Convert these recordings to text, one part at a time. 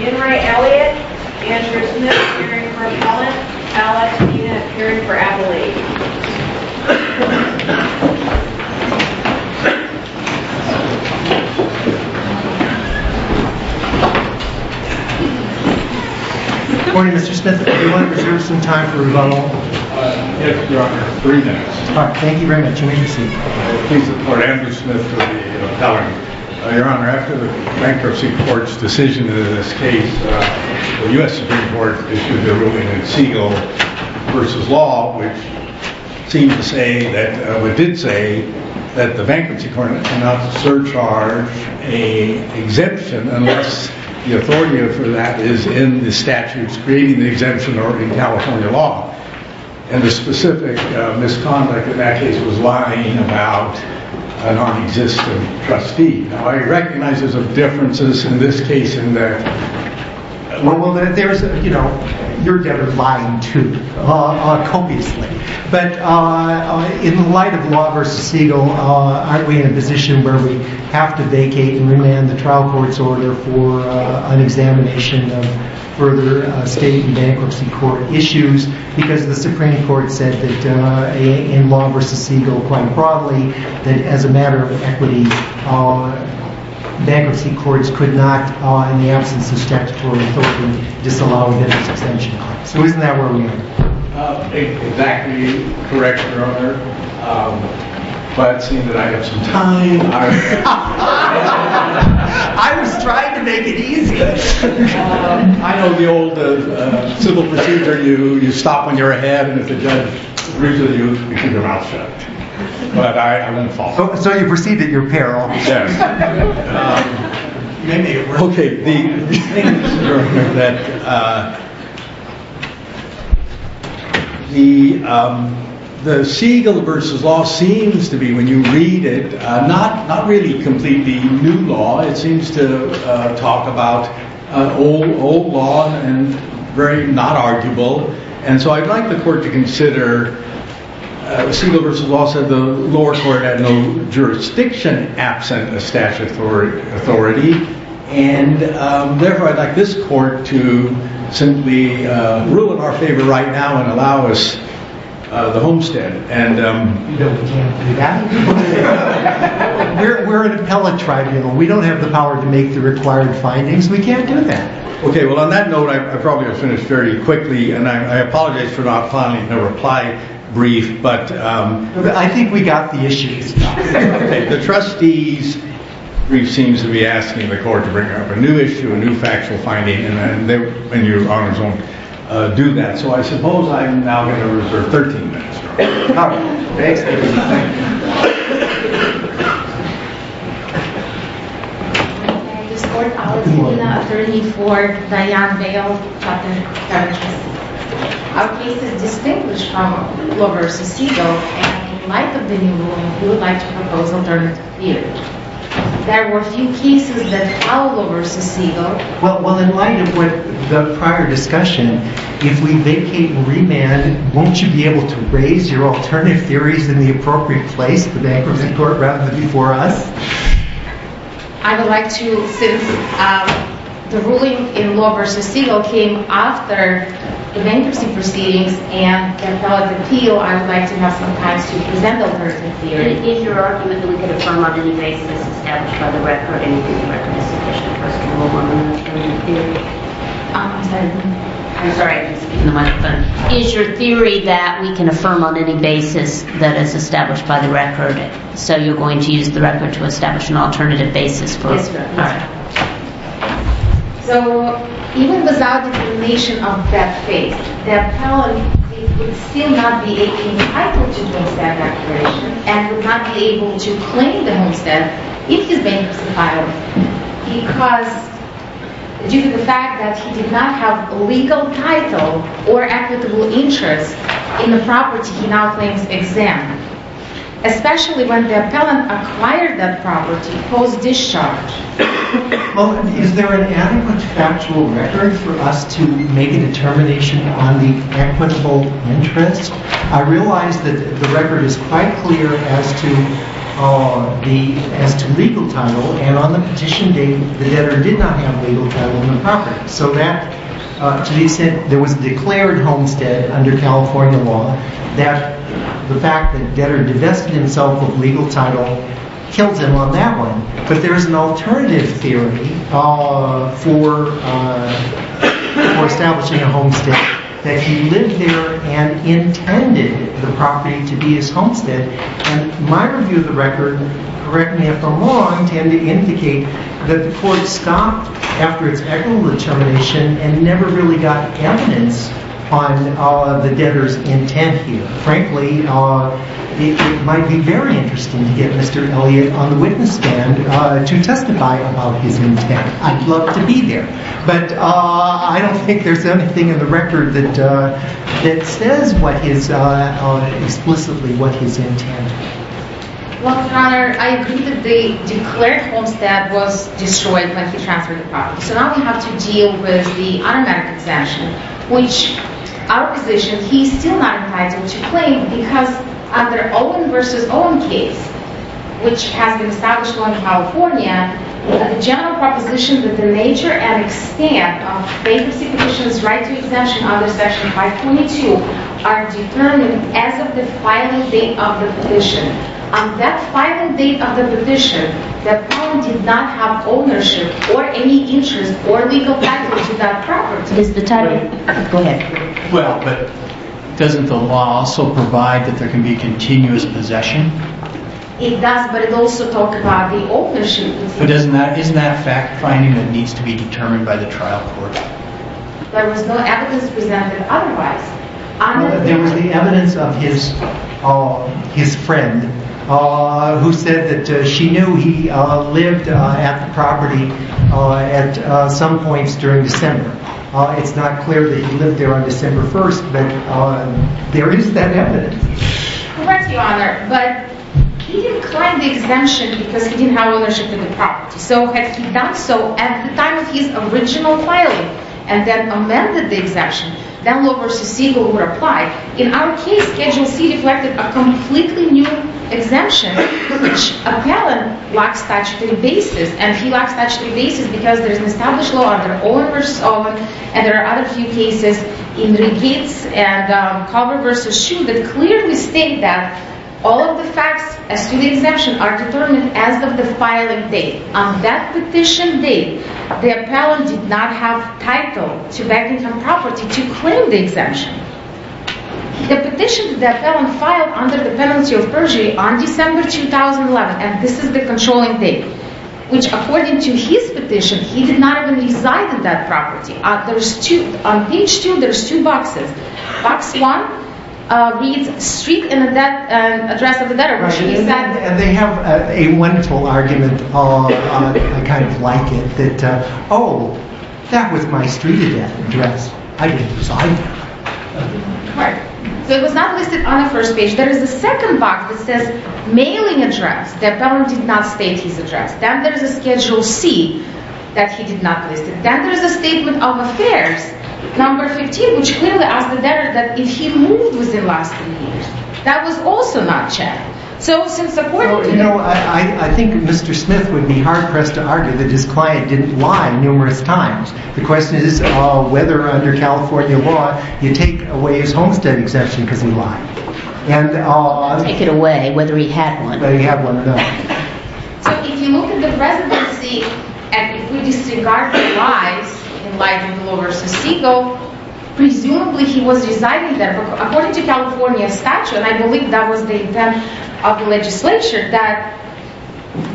Enright Elliott, Andrew Smith, appearing for Appellant. Alex, you have appeared for Appellate. Good morning, Mr. Smith. Everyone reserve some time for rebuttal. Yes, Your Honor. Three minutes. Thank you very much. We need to see. Please support Andrew Smith for the Appellant. Your Honor, after the Bankruptcy Court's decision in this case, the U.S. Supreme Court issued their ruling in Siegel v. Law, which seemed to say, or did say, that the Bankruptcy Court cannot surcharge an exemption unless the authority for that is in the statutes creating the exemption or in California law. And the specific misconduct in that case was lying about a non-existent trustee. Now, I recognize there's a difference in this case and that. Well, there's, you know, you're kind of lying, too, copiously. But in light of Law v. Siegel, aren't we in a position where we have to vacate and remand the trial court's order for an examination of further State and Bankruptcy Court issues? Because the Supreme Court said that in Law v. Siegel, quite broadly, that as a matter of equity, Bankruptcy Courts could not, in the absence of statutory authority, disallow an exemption. So isn't that where we are? Exactly correct, Your Honor. But it seems that I have some time. I was trying to make it easy. I know the old civil procedure. You stop when you're ahead, and if the judge agrees with you, you keep your mouth shut. But I wouldn't fall for that. So you perceive that you're a pair, obviously. Yes. OK. The thing is, Your Honor, that the Siegel v. Law seems to be, when you read it, not really completely new law. It seems to talk about old law and very not arguable. And so I'd like the court to consider, Siegel v. Law said the lower court had no jurisdiction absent of statutory authority, and therefore I'd like this court to simply rule in our favor right now and allow us the homestead. You don't intend to do that? We're an appellate tribunal. We don't have the power to make the required findings. We can't do that. OK. Well, on that note, I probably have finished very quickly, and I apologize for not filing a reply brief. But I think we got the issue. OK. The trustee's brief seems to be asking the court to bring up a new issue, a new factual finding, and Your Honor's going to do that. So I suppose I'm now going to reserve 13 minutes. All right. Thanks. I would ask this court to appoint an attorney for Diane Bale. Our case is distinguished from Law v. Siegel. And in light of the new rule, we would like to propose alternative theory. There were a few cases that allowed Law v. Siegel Well, in light of what the prior discussion, if we vacate and remand, won't you be able to raise your alternative theories in the appropriate place, the bankruptcy court, rather than before us? I would like to, since the ruling in Law v. Siegel came after the bankruptcy proceedings and the appellate appeal, I would like to have some time to present the alternative theory. Is your argument that we could affirm on any basis established by the record anything that would be sufficient for us to rule on alternative theory? I'm sorry, I didn't speak in the microphone. Is your theory that we can affirm on any basis that is established by the record, so you're going to use the record to establish an alternative basis for us? Yes, ma'am. So, even without the elimination of that case, the appellate would still not be entitled to the homestead declaration and would not be able to claim the homestead if he's bankruptcy filed, because, due to the fact that he did not have legal title or equitable interest in the property he now claims exempt, especially when the appellant acquired that property post-discharge. Well, is there an adequate factual record for us to make a determination on the equitable interest? I realize that the record is quite clear as to legal title and on the petition date the debtor did not have legal title on the property. So that, to be said, there was a declared homestead under California law that the fact that the debtor divested himself of legal title killed him on that one. But there is an alternative theory for establishing a homestead that he lived there and intended the property to be his homestead. And my review of the record, correct me if I'm wrong, tend to indicate that the court stopped after its equitable determination and never really got evidence on the debtor's intent here. Frankly, it might be very interesting to get Mr. Elliott on the witness stand to testify about his intent. I'd love to be there. But I don't think there's anything in the record that says explicitly what his intent was. Well, Your Honor, I agree that the declared homestead was destroyed when he transferred the property. So now we have to deal with the automatic exemption, which our position he's still not entitled to claim because under Owen v. Owen case, which has been established law in California, the general proposition that the nature and extent of bankruptcy petition's right to exemption under Section 522 are determined as of the filing date of the petition. On that filing date of the petition, the client did not have ownership or any interest or legal title to that property. It's the title. Go ahead. Well, but doesn't the law also provide that there can be continuous possession? It does, but it also talks about the ownership. But isn't that fact-finding that needs to be determined by the trial court? There was no evidence presented otherwise. There was the evidence of his friend who said that she knew he lived at the property at some points during December. It's not clear that he lived there on December 1st, but there is that evidence. Correct, Your Honor, but he didn't claim the exemption because he didn't have ownership of the property. So had he done so at the time of his original filing and then amended the exemption, then law v. Siegel would apply. In our case, Schedule C reflected a completely new exemption which appellant lacks statutory basis, and he lacks statutory basis because there is an established law under Owen v. Owen, and there are other few cases in Regates and Culver v. Shoe that clearly state that all of the facts as to the exemption are determined as of the filing date. On that petition date, the appellant did not have title to back income property to claim the exemption. The petition that the appellant filed under the penalty of perjury on December 2011, and this is the controlling date, which according to his petition, he did not even reside in that property. On page 2, there's two boxes. Box 1 reads street and address of the debtor, which he said... And they have a wonderful argument, I kind of like it, that, oh, that was my street address. I didn't reside there. Right. So it was not listed on the first page. There is a second box that says mailing address. The appellant did not state his address. Then there's a Schedule C that he did not list. Then there's a statement of affairs, number 15, which clearly asked the debtor that if he moved within the last three years. That was also not checked. So since the court... Well, you know, I think Mr. Smith would be hard-pressed to argue that his client didn't lie numerous times. The question is whether under California law you take away his homestead exemption because he lied. And... Take it away, whether he had one. Whether he had one, no. So if you look at the presidency and if we disregard the lies in light of the law versus Segal, presumably he was residing there. According to California statute, and I believe that was the intent of the legislature, that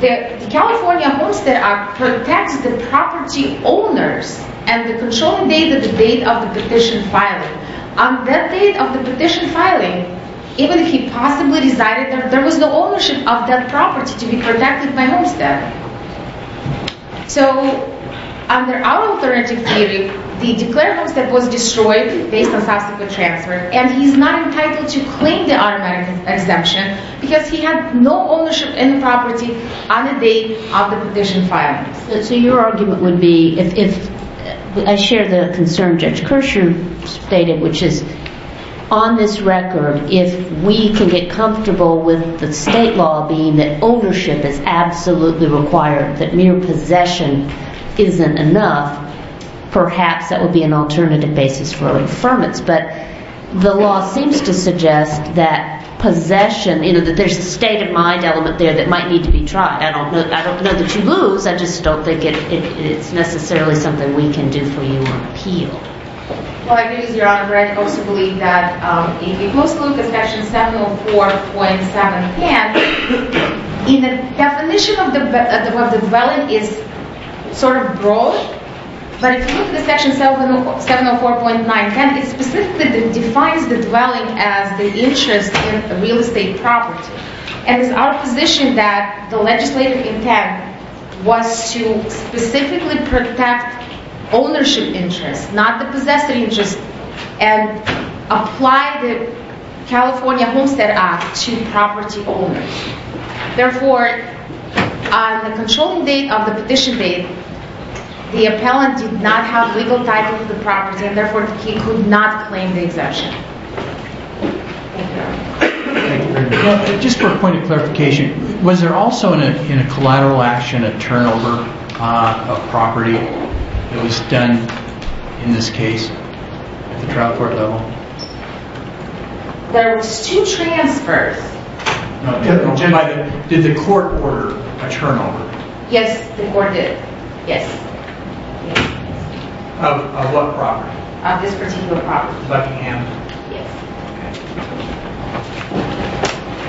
the California Homestead Act protects the property owners and the controlling date of the date of the petition filing. On that date of the petition filing, even if he possibly resided there, there was no ownership of that property to be protected by homestead. So under our alternative theory, the declarable homestead was destroyed based on subsequent transfer, and he's not entitled to claim the automatic exemption because he had no ownership in the property on the date of the petition filing. So your argument would be if... I share the concern Judge Kirscher stated, which is, on this record, if we can get comfortable with the state law being that ownership is absolutely required, that mere possession isn't enough, perhaps that would be an alternative basis for our affirmance. But the law seems to suggest that possession, that there's a state-of-mind element there that might need to be tried. I don't know that you lose, I just don't think it's necessarily something we can do for you on appeal. Well, I do, Your Honor, but I also believe that if you look at Section 704.710, the definition of the dwelling is sort of broad, but if you look at Section 704.910, it specifically defines the dwelling as the interest in real estate property. And it's our position that the legislative intent was to specifically protect ownership interests, not the possessor interests, and apply the California Homestead Act to property owners. Therefore, on the controlling date of the petition date, the appellant did not have legal title to the property, and therefore he could not claim the exemption. Thank you, Your Honor. Just for a point of clarification, was there also in a collateral action a turnover of property that was done in this case? At the trial court level? There was two transfers. Did the court order a turnover? Yes, the court did. Yes. Of what property? Of this particular property. Buckingham? Yes.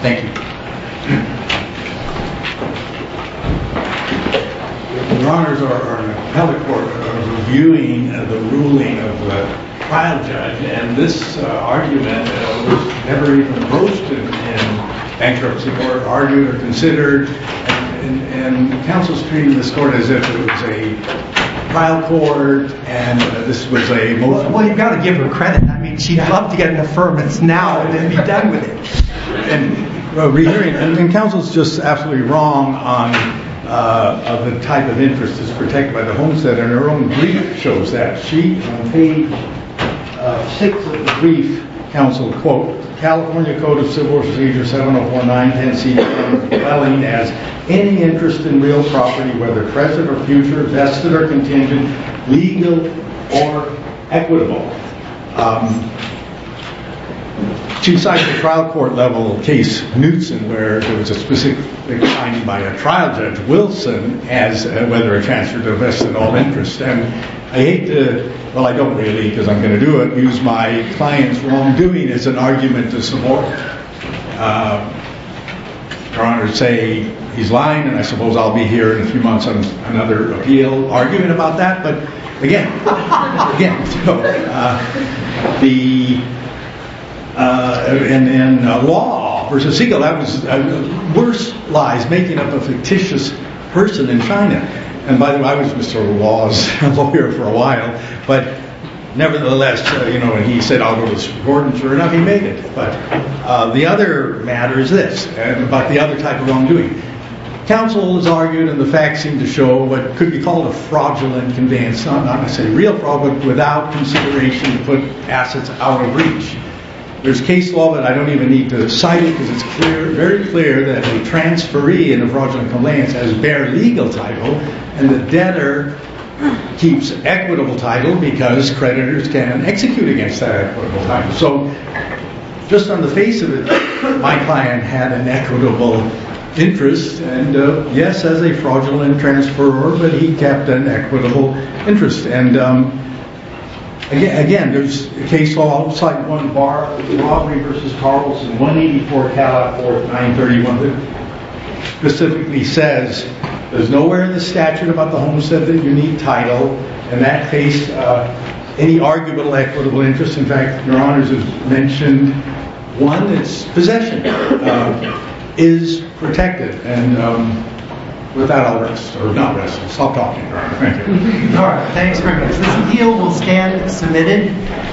Thank you. Your Honors, our appellate court is reviewing the ruling of the trial judge. And this argument was never even posted in bankruptcy court, argued or considered. And counsel's treating this court as if it was a trial court, and this was a motion. Well, you've got to give her credit. I mean, she'd love to get an affirmance now and then be done with it. And counsel's just absolutely wrong on the type of interest that's protected by the homesteader. And her own brief shows that. She, on page six of the brief, counseled, quote, California Code of Civil Procedure 7049-10C, as any interest in real property, whether present or future, vested or contingent, legal or equitable. She cited the trial court level case, Knutson, where there was a specific finding by a trial judge, Wilson, as whether a transfer to a vested in all interest. And I hate to, well, I don't really, because I'm going to do it, use my client's wrongdoing as an argument to support. Your Honors say he's lying. And I suppose I'll be here in a few months on another appeal arguing about that. But again, again, the law versus legal, worse lies making up a fictitious person in China. And by the way, I was Mr. Law's lawyer for a while. But nevertheless, he said, I'll go with Gordon. Sure enough, he made it. But the other matter is this, about the other type of wrongdoing. Counsel has argued, and the facts seem to show, what could be called a fraudulent conveyance. I'm not going to say real fraud, but without consideration to put assets out of reach. There's case law that I don't even need to cite it because it's very clear that a transferee in a fraudulent conveyance has bare legal title. And the debtor keeps equitable title because creditors can execute against that equitable title. So just on the face of it, my client had an equitable interest. And yes, as a fraudulent transferer, but he kept an equitable interest. And again, there's case law, I'll cite one bar, Lawbury v. Carlson, 184, 4th, 931. Specifically says, there's nowhere in the statute about the homestead that you need title. In that case, any arguable equitable interest, in fact, your honors have mentioned one, it's possession, is protected. And with that, I'll rest. Or not rest, I'll stop talking, your honor. Thank you. All right, thanks very much. This appeal will stand submitted.